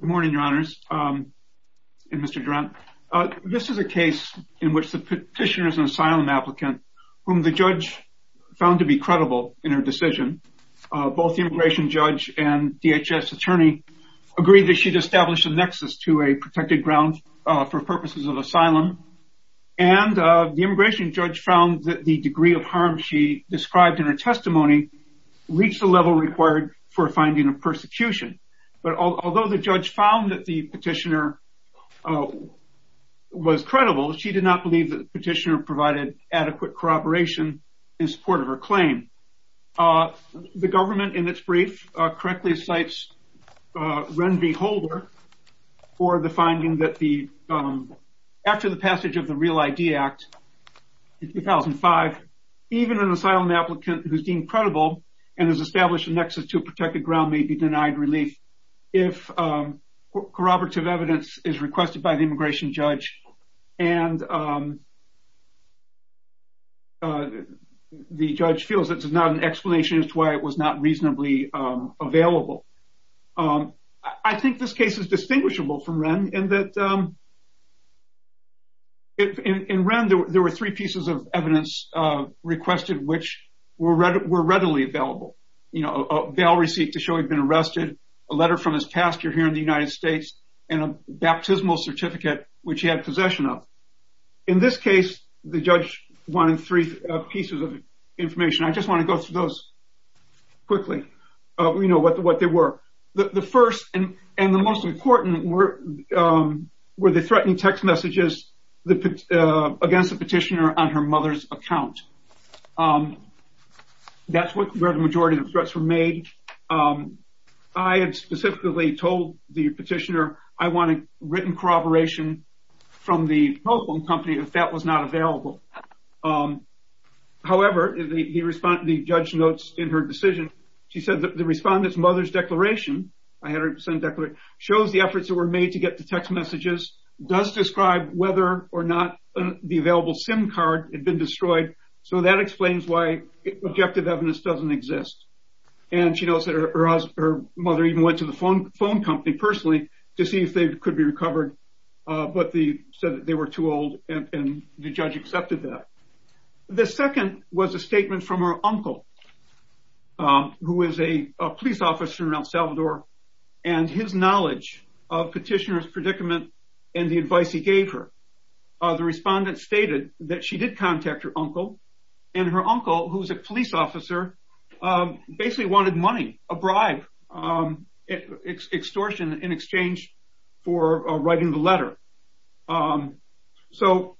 Good morning, your honors, and Mr. Durant. This is a case in which the petitioner is an asylum applicant, whom the judge found to be credible in her decision. Both the immigration judge and DHS attorney agreed that she'd establish a nexus to a protected ground for purposes of asylum. And the immigration judge found that the degree of harm she described in her testimony reached the level required for finding a persecution. But although the judge found that the petitioner was credible, she did not believe that the petitioner provided adequate corroboration in support of her claim. The government, in its brief, correctly cites Ren V. Holder for the finding that after the passage of the Real ID Act in 2005, even an asylum applicant who's deemed credible and has established a nexus to a protected ground may be denied relief if corroborative evidence is requested by the immigration judge. And the judge feels it's not an explanation as to why it was not reasonably available. I think this case is distinguishable from Ren in that. In Ren, there were three pieces of evidence requested, which were readily available. You know, a bail receipt to show he'd been arrested, a letter from his pastor here in the United States, and a baptismal certificate, which he had possession of. In this case, the judge wanted three pieces of information. I just want to go through those quickly, you know, what they were. The first and the most important were the threatening text messages against the petitioner on her mother's account. That's where the majority of the threats were made. I had specifically told the petitioner, I want a written corroboration from the telephone company if that was not available. However, the judge notes in her decision, she said that the respondent's mother's declaration, I had her send a declaration, shows the efforts that were made to get the text messages, does describe whether or not the available SIM card had been destroyed. So that explains why objective evidence doesn't exist. And she knows that her mother even went to the phone company personally to see if they could be recovered, but they said that they were too old and the judge accepted that. The second was a statement from her uncle, who is a police officer in El Salvador, and his knowledge of petitioner's predicament and the advice he gave her. The respondent stated that she did contact her uncle and her uncle, who's a police officer, basically wanted money, a bribe extortion in exchange for writing the letter. So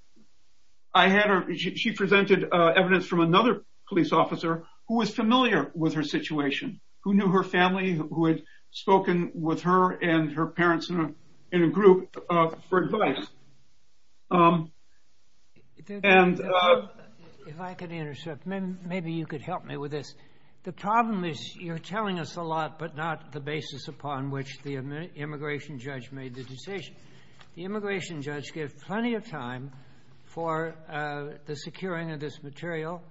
I had her, she presented evidence from another police officer who was familiar with her situation, who knew her family, who had spoken with her and her parents in a group for advice. And... If I could intercept, maybe you could help me with this. The problem is you're telling us a lot, but not the basis upon which the immigration judge made the decision. The immigration judge gave plenty of time for the securing of this material,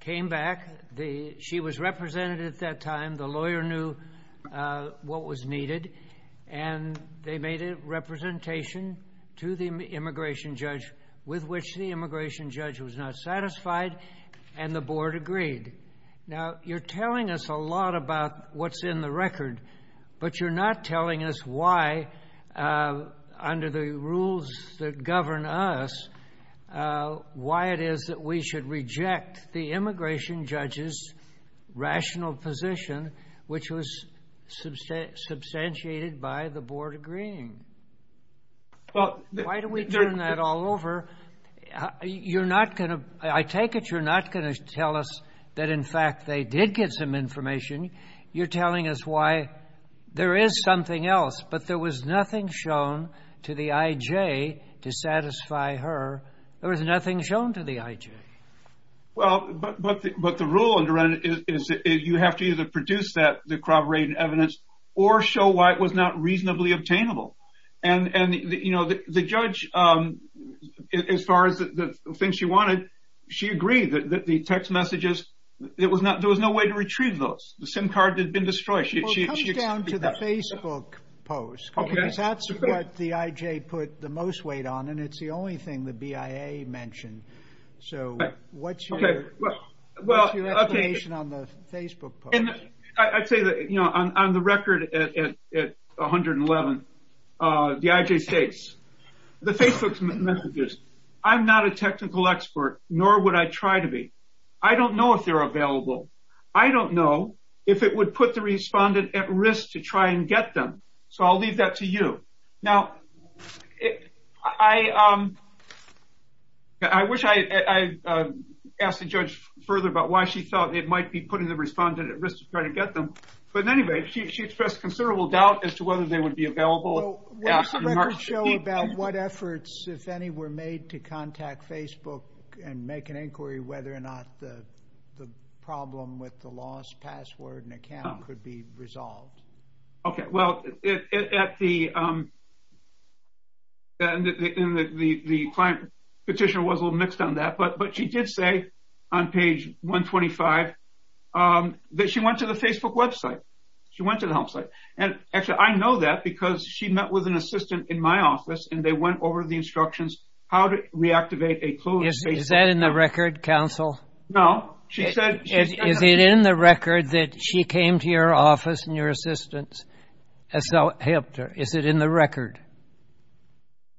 came back. She was represented at that time. The lawyer knew what was needed, and they made a representation to the immigration judge with which the immigration judge was not satisfied, and the board agreed. Now, you're telling us a lot about what's in the record, but you're not telling us why, under the rules that govern us, why it is that we should reject the immigration judge's rational position, which was substantiated by the board agreeing. Why do we turn that all over? You're not going to... I take it you're not going to tell us that, in fact, they did get some information. You're telling us why there is something else, but there was nothing shown to the IJ to satisfy her. There was nothing shown to the IJ. Well, but the rule underwritten is that you have to either produce the corroborated evidence or show why it was not reasonably obtainable, and the judge, as far as the things she wanted, she agreed that the text messages, there was no way to retrieve those. The SIM card had been destroyed. Well, it comes down to the Facebook post, because that's what the IJ put the most weight on, and it's the only thing the BIA mentioned. So what's your explanation on the Facebook post? And I'd say that on the record at 111, the IJ states, the Facebook messages, I'm not a technical expert, nor would I try to be. I don't know if they're available. I don't know if it would put the respondent at risk to try and get them. So I'll leave that to you. Now, I wish I had asked the judge further about why she thought it might be putting the respondent at risk to try to get them. But anyway, she expressed considerable doubt as to whether they would be available. What does the record show about what efforts, if any, were made to contact Facebook and make an inquiry whether or not the problem with the lost password and account could be resolved? Okay, well, the client petitioner was a little mixed on that, but she did say on page 125 that she went to the Facebook website. She went to the website. And actually, I know that because she met with an assistant in my office, and they went over the instructions how to reactivate a closed Facebook account. Is that in the record, counsel? No, she said- Is it in the record that she came to your office and your assistant, Asel Hector? Is it in the record?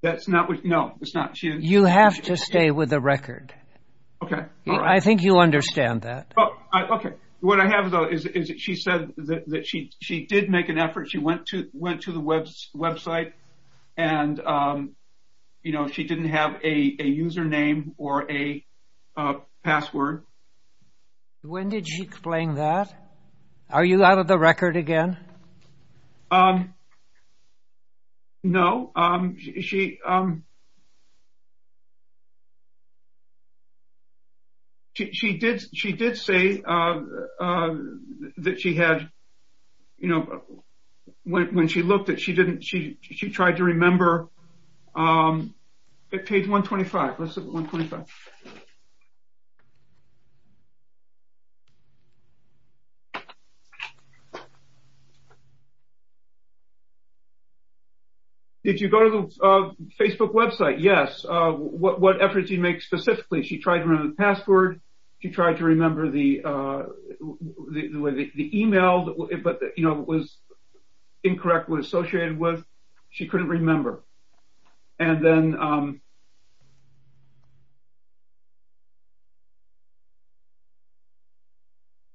That's not, no, it's not. You have to stay with the record. Okay, all right. I think you understand that. Oh, okay. What I have, though, is that she said that she did make an effort. She went to the website, and she didn't have a username or a password. When did she explain that? Are you out of the record again? No. She did say that she had, when she looked at it, she didn't, she tried to remember, at page 125, let's look at 125. Okay. Did you go to the Facebook website? Yes. What efforts did she make specifically? She tried to remember the password. She tried to remember the email, but it was incorrect, what it was associated with. She couldn't remember. And then- Okay.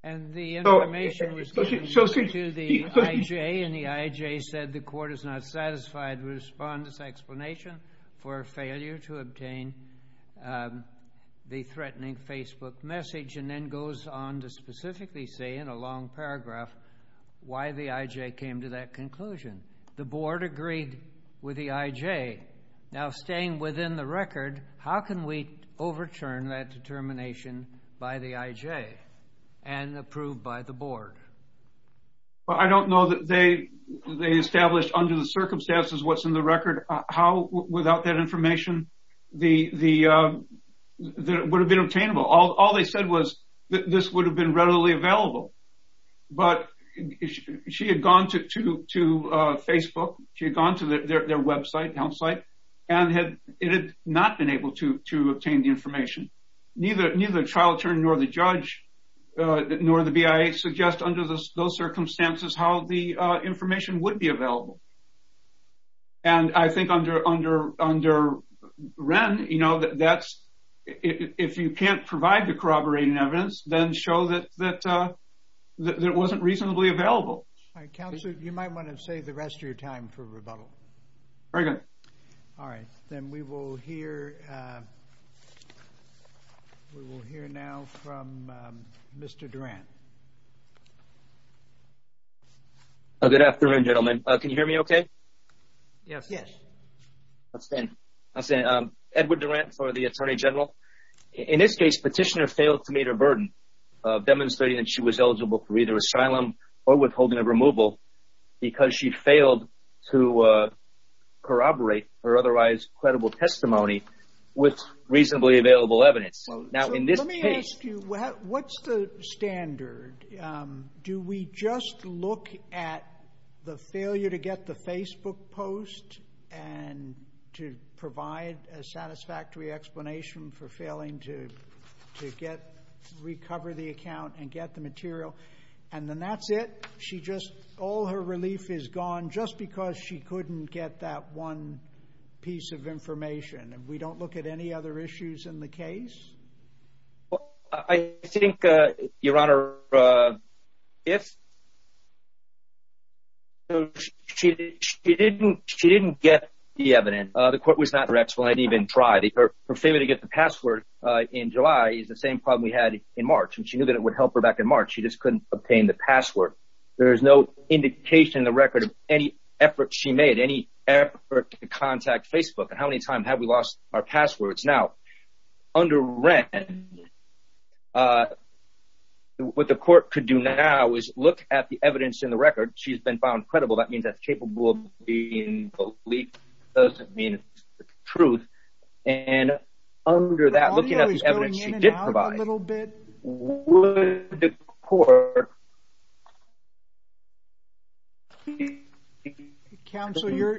And the information was given to the IJ, and the IJ said the court is not satisfied with the respondent's explanation for a failure to obtain the threatening Facebook message, and then goes on to specifically say in a long paragraph why the IJ came to that conclusion. The board agreed with the IJ. Now, staying within the record, how can we overturn that determination by the IJ and approve by the board? Well, I don't know that they established under the circumstances what's in the record. How, without that information, would it have been obtainable? All they said was that this would have been readily available. But she had gone to Facebook, she had gone to their website, help site, and it had not been able to obtain the information. Neither the trial attorney nor the judge, nor the BIA suggest under those circumstances how the information would be available. And I think under Wren, if you can't provide the corroborating evidence, then show that it wasn't reasonably available. All right, counsel, you might wanna save the rest of your time for rebuttal. Very good. All right, then we will hear now from Mr. Durant. Good afternoon, gentlemen. Can you hear me okay? Yes. Yes. That's good, that's good. Edward Durant for the attorney general. In this case, petitioner failed to meet her burden of demonstrating that she was eligible for either asylum or withholding of removal because she failed to corroborate her otherwise credible testimony with reasonably available evidence. Now, in this case- Let me ask you, what's the standard? Do we just look at the failure to get the Facebook post and to provide a satisfactory explanation for failing to recover the account and get the material and then that's it? She just, all her relief is gone just because she couldn't get that one piece of information and we don't look at any other issues in the case? I think, Your Honor, if... She didn't get the evidence. The court was not direct, so they didn't even try. Her failure to get the password in July is the same problem we had in March when she knew that it would help her back in March. She just couldn't obtain the password. There's no indication in the record of any effort she made, any effort to contact Facebook. And how many times have we lost our passwords? Now, under Wren, what the court could do now is look at the evidence in the record. She's been found credible. That means that's capable of being believed. Doesn't mean it's the truth. And under that, looking at the evidence she did provide, what the court could do... Counsel, your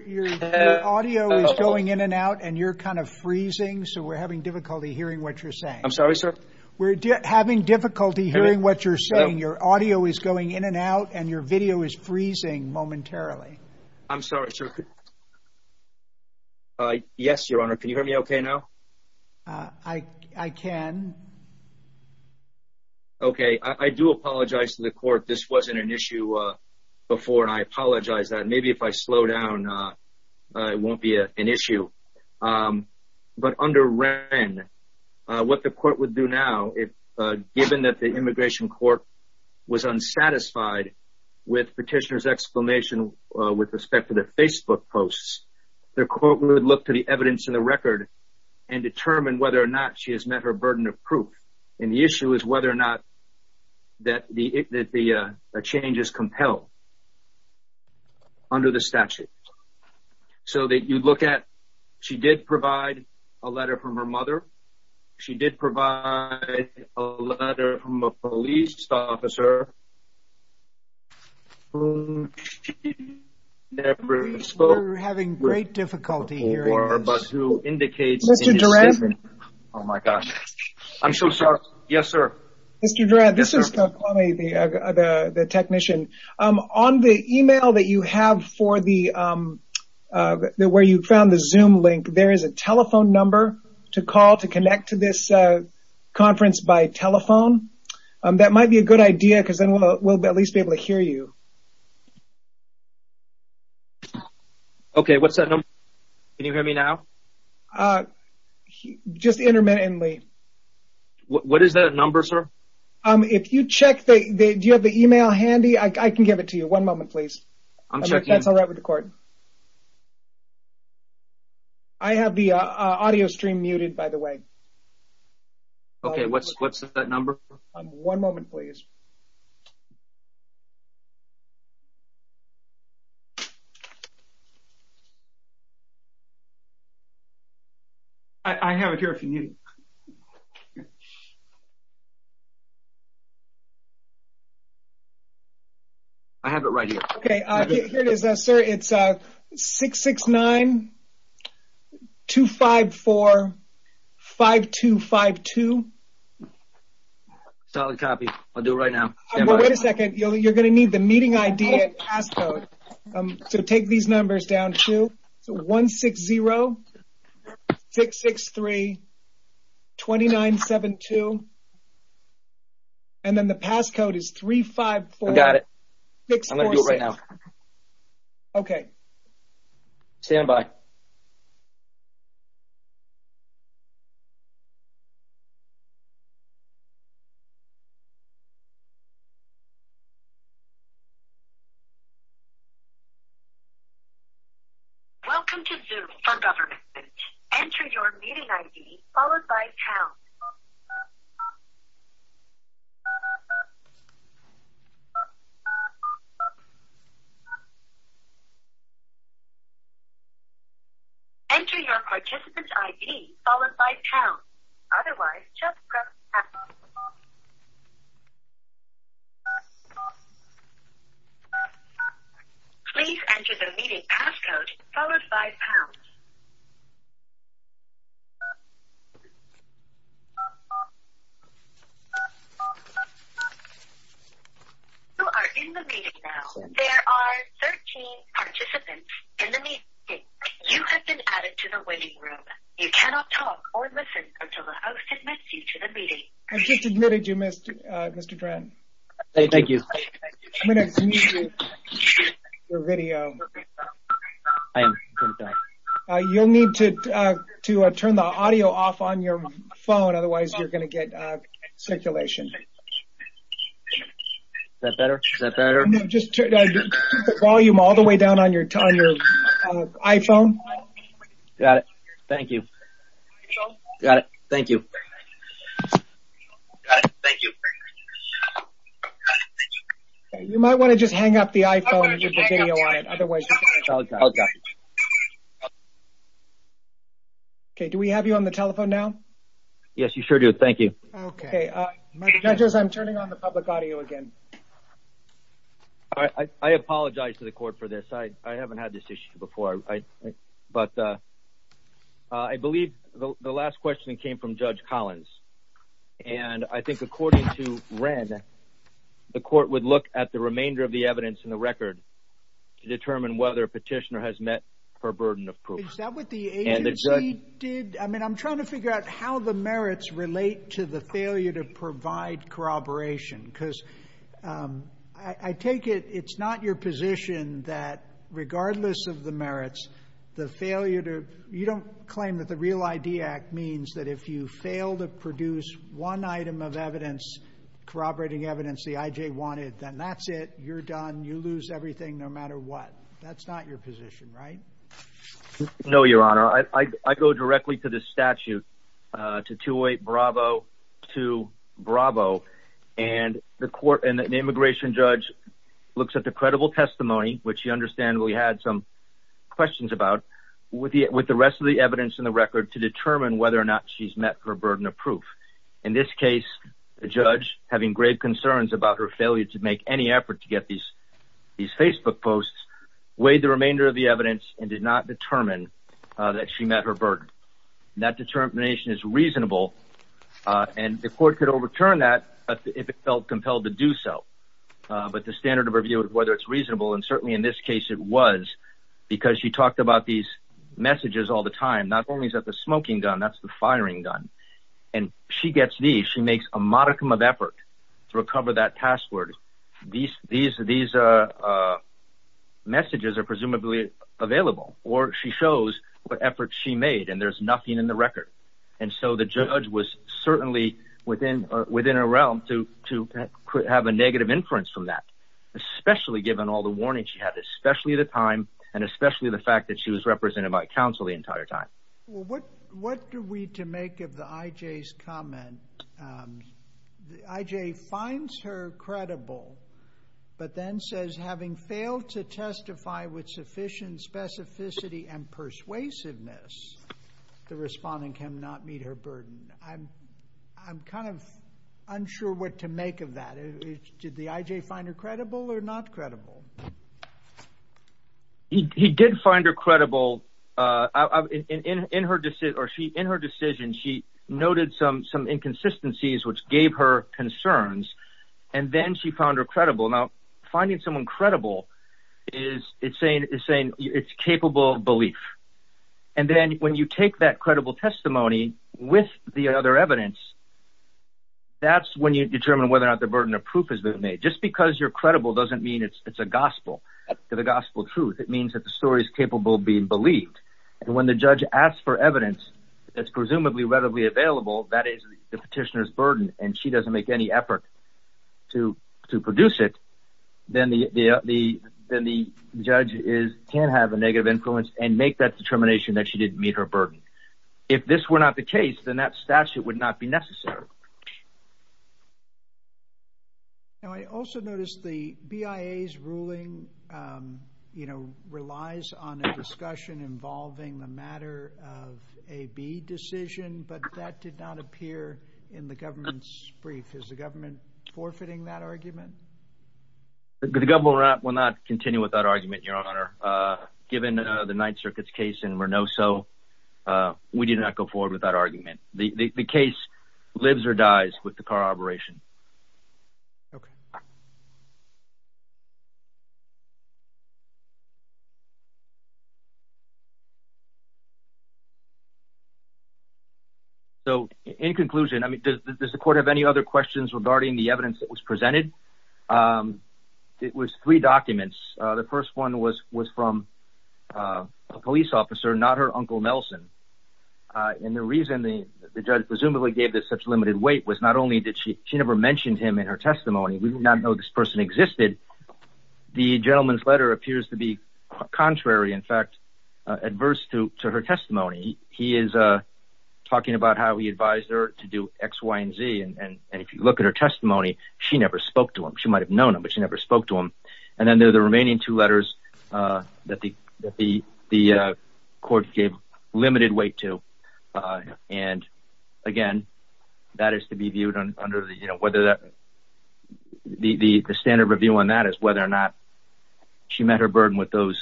audio is going in and out and you're kind of freezing, so we're having difficulty hearing what you're saying. I'm sorry, sir? We're having difficulty hearing what you're saying. Your audio is going in and out and your video is freezing momentarily. I'm sorry, sir. Yes, Your Honor, can you hear me okay now? I can. Okay, I do apologize to the court. This wasn't an issue before and I apologize that. Maybe if I slow down, it won't be an issue. But under Wren, what the court would do now, given that the immigration court was unsatisfied with Petitioner's exclamation with respect to the Facebook posts, the court would look to the evidence in the record and determine whether or not she has met her burden of proof and the issue is whether or not that the change is compelled under the statute. So that you'd look at, she did provide a letter from her mother. She did provide a letter from a police officer whom she never spoke to. We're having great difficulty hearing this. Mr. Duran. Oh my gosh. I'm so sorry. Yes, sir. Mr. Duran, this is the technician. On the email that you have for the, where you found the Zoom link, there is a telephone number to call to connect to this conference by telephone. That might be a good idea because then we'll at least be able to hear you. Okay, what's that number? Can you hear me now? Just intermittently. What is that number, sir? If you check the, do you have the email handy? I can give it to you. One moment, please. I'm checking. That's all right with the court. I have the audio stream muted, by the way. Okay, what's that number? One moment, please. I have it here if you need it. I have it right here. Okay, here it is, sir. It's 669-254-5252. Solid copy. I'll do it right now. Stand by. Wait a second. You're going to need the meeting ID and passcode. So take these numbers down. So 160-663-2972. And then the passcode is 354-646. I got it. I'm going to do it right now. Okay. Stand by. Welcome to Zoom for Government. Enter your meeting ID, followed by town. Enter your participant ID, followed by town. Otherwise, just press pass. Please enter the meeting passcode, followed by town. You are in the meeting now. There are 13 participants in the meeting. You have been added to the waiting room. You cannot talk or listen until the host admits you to the meeting. I just admitted you, Mr. Dren. Thank you. I'm going to mute you for video. You'll need to turn the audio off on your phone. Otherwise, you're going to get circulation. Is that better? Is that better? No, just keep the volume all the way down on your iPhone. Got it. Thank you. You might want to just hang up the iPhone and put the video on it. Otherwise, you can't talk. Okay, do we have you on the telephone now? Yes, you sure do. Thank you. Okay. My judges, I'm turning on the public audio again. I apologize to the court for this. But I believe that the public audio is the best way to communicate the last question that came from Judge Collins. And I think according to Wren, the court would look at the remainder of the evidence in the record to determine whether a petitioner has met her burden of proof. Is that what the agency did? I mean, I'm trying to figure out how the merits relate to the failure to provide corroboration. Because I take it it's not your position that regardless of the merits, the failure to, you don't claim that the Real ID Act means that if you fail to produce one item of evidence, corroborating evidence the IJ wanted, then that's it, you're done, you lose everything no matter what. That's not your position, right? No, Your Honor. I go directly to the statute, to 208 Bravo 2 Bravo. And the immigration judge looks at the credible testimony, which you understand we had some questions about, with the rest of the evidence in the record to determine whether or not she's met her burden of proof. In this case, the judge, having grave concerns about her failure to make any effort to get these Facebook posts, weighed the remainder of the evidence and did not determine that she met her burden. That determination is reasonable. And the court could overturn that if it felt compelled to do so. But the standard of review is whether it's reasonable and certainly in this case it was, because she talked about these messages all the time, not only is that the smoking gun, that's the firing gun. And she gets these, she makes a modicum of effort to recover that password. These messages are presumably available or she shows what efforts she made and there's nothing in the record. And so the judge was certainly within a realm to have a negative inference from that, especially given all the warning she had, especially the time and especially the fact that she was represented by counsel the entire time. Well, what do we to make of the IJ's comment? IJ finds her credible, but then says having failed to testify with sufficient specificity and persuasiveness, the respondent can not meet her burden. I'm kind of unsure what to make of that. Did the IJ find her credible or not credible? He did find her credible in her decision. She noted some inconsistencies which gave her concerns and then she found her credible. Now, finding someone credible is saying it's capable belief. And then when you take that credible testimony with the other evidence, that's when you determine whether or not the burden of proof has been made. Just because you're credible doesn't mean it's a gospel. To the gospel truth, it means that the story is capable of being believed. And when the judge asks for evidence that's presumably readily available, that is the petitioner's burden and she doesn't make any effort to produce it, then the judge can have a negative influence and make that determination that she didn't meet her burden. If this were not the case, then that statute would not be necessary. Now, I also noticed the BIA's ruling relies on a discussion involving the matter of a B decision but that did not appear in the government's brief. Is the government forfeiting that argument? The government will not continue with that argument, Your Honor. Given the Ninth Circuit's case in Renoso, we did not go forward with that argument. The case lives or dies with the car operation. So in conclusion, I mean, does the court have any other questions regarding the evidence that was presented? It was three documents. The first one was from a police officer, not her uncle, Nelson. And the reason the judge presumably gave this such limited weight was not only that she never mentioned him in her testimony, we do not know this person existed. The gentleman's letter appears to be contrary, in fact, adverse to her testimony. He is talking about how he advised her to do X, Y, and Z. And if you look at her testimony, she never spoke to him. She might've known him, but she never spoke to him. And then there are the remaining two letters that the court gave limited weight to. And again, that is to be viewed under the, whether that, the standard review on that is whether or not she met her burden with those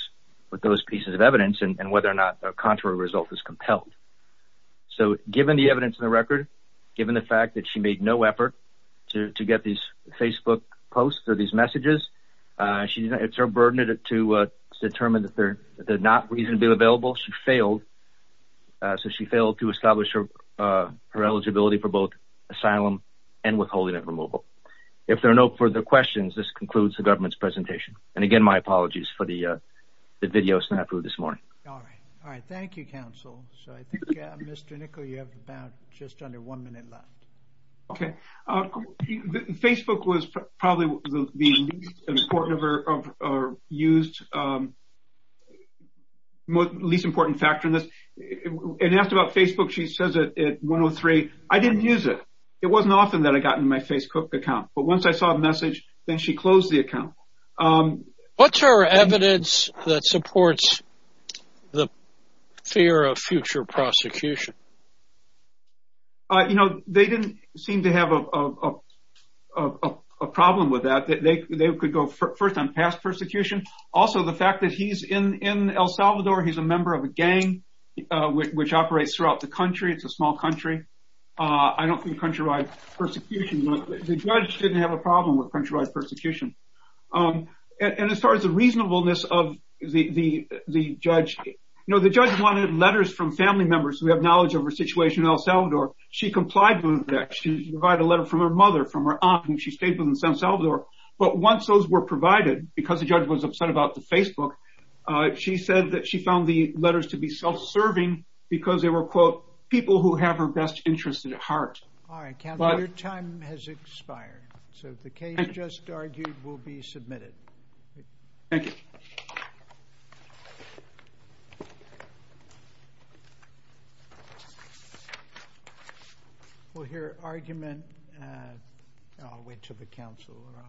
pieces of evidence and whether or not a contrary result was compelled. So given the evidence in the record, given the fact that she made no effort to get these Facebook posts or these messages, it's her burden to determine that they're not reasonably available. She failed. So she failed to establish her eligibility for both asylum and withholding and removal. If there are no further questions, this concludes the government's presentation. And again, my apologies for the video snap through this morning. All right, all right. Thank you, counsel. So I think Mr. Nickel, you have about just under one minute left. Okay. Facebook was probably the least important of her used, least important factor in this. And asked about Facebook. She says it at 103. I didn't use it. It wasn't often that I got in my Facebook account, but once I saw a message, then she closed the account. What's her evidence that supports the fear of future prosecution? You know, they didn't seem to have a problem with that. They could go first on past persecution. Also the fact that he's in El Salvador. He's a member of a gang, which operates throughout the country. It's a small country. I don't think country-wide persecution. The judge didn't have a problem with country-wide persecution. And as far as the reasonableness of the judge, you know, the judge wanted letters from family members who have knowledge of her situation in El Salvador. She complied with that. She provided a letter from her mother, from her aunt whom she stayed with in San Salvador. But once those were provided, because the judge was upset about the Facebook, she said that she found the letters to be self-serving because they were, quote, people who have her best interests at heart. All right, counsel, your time has expired. So the case just argued will be submitted. Thank you. Thank you. We'll hear argument. I'll wait till the counsel are on.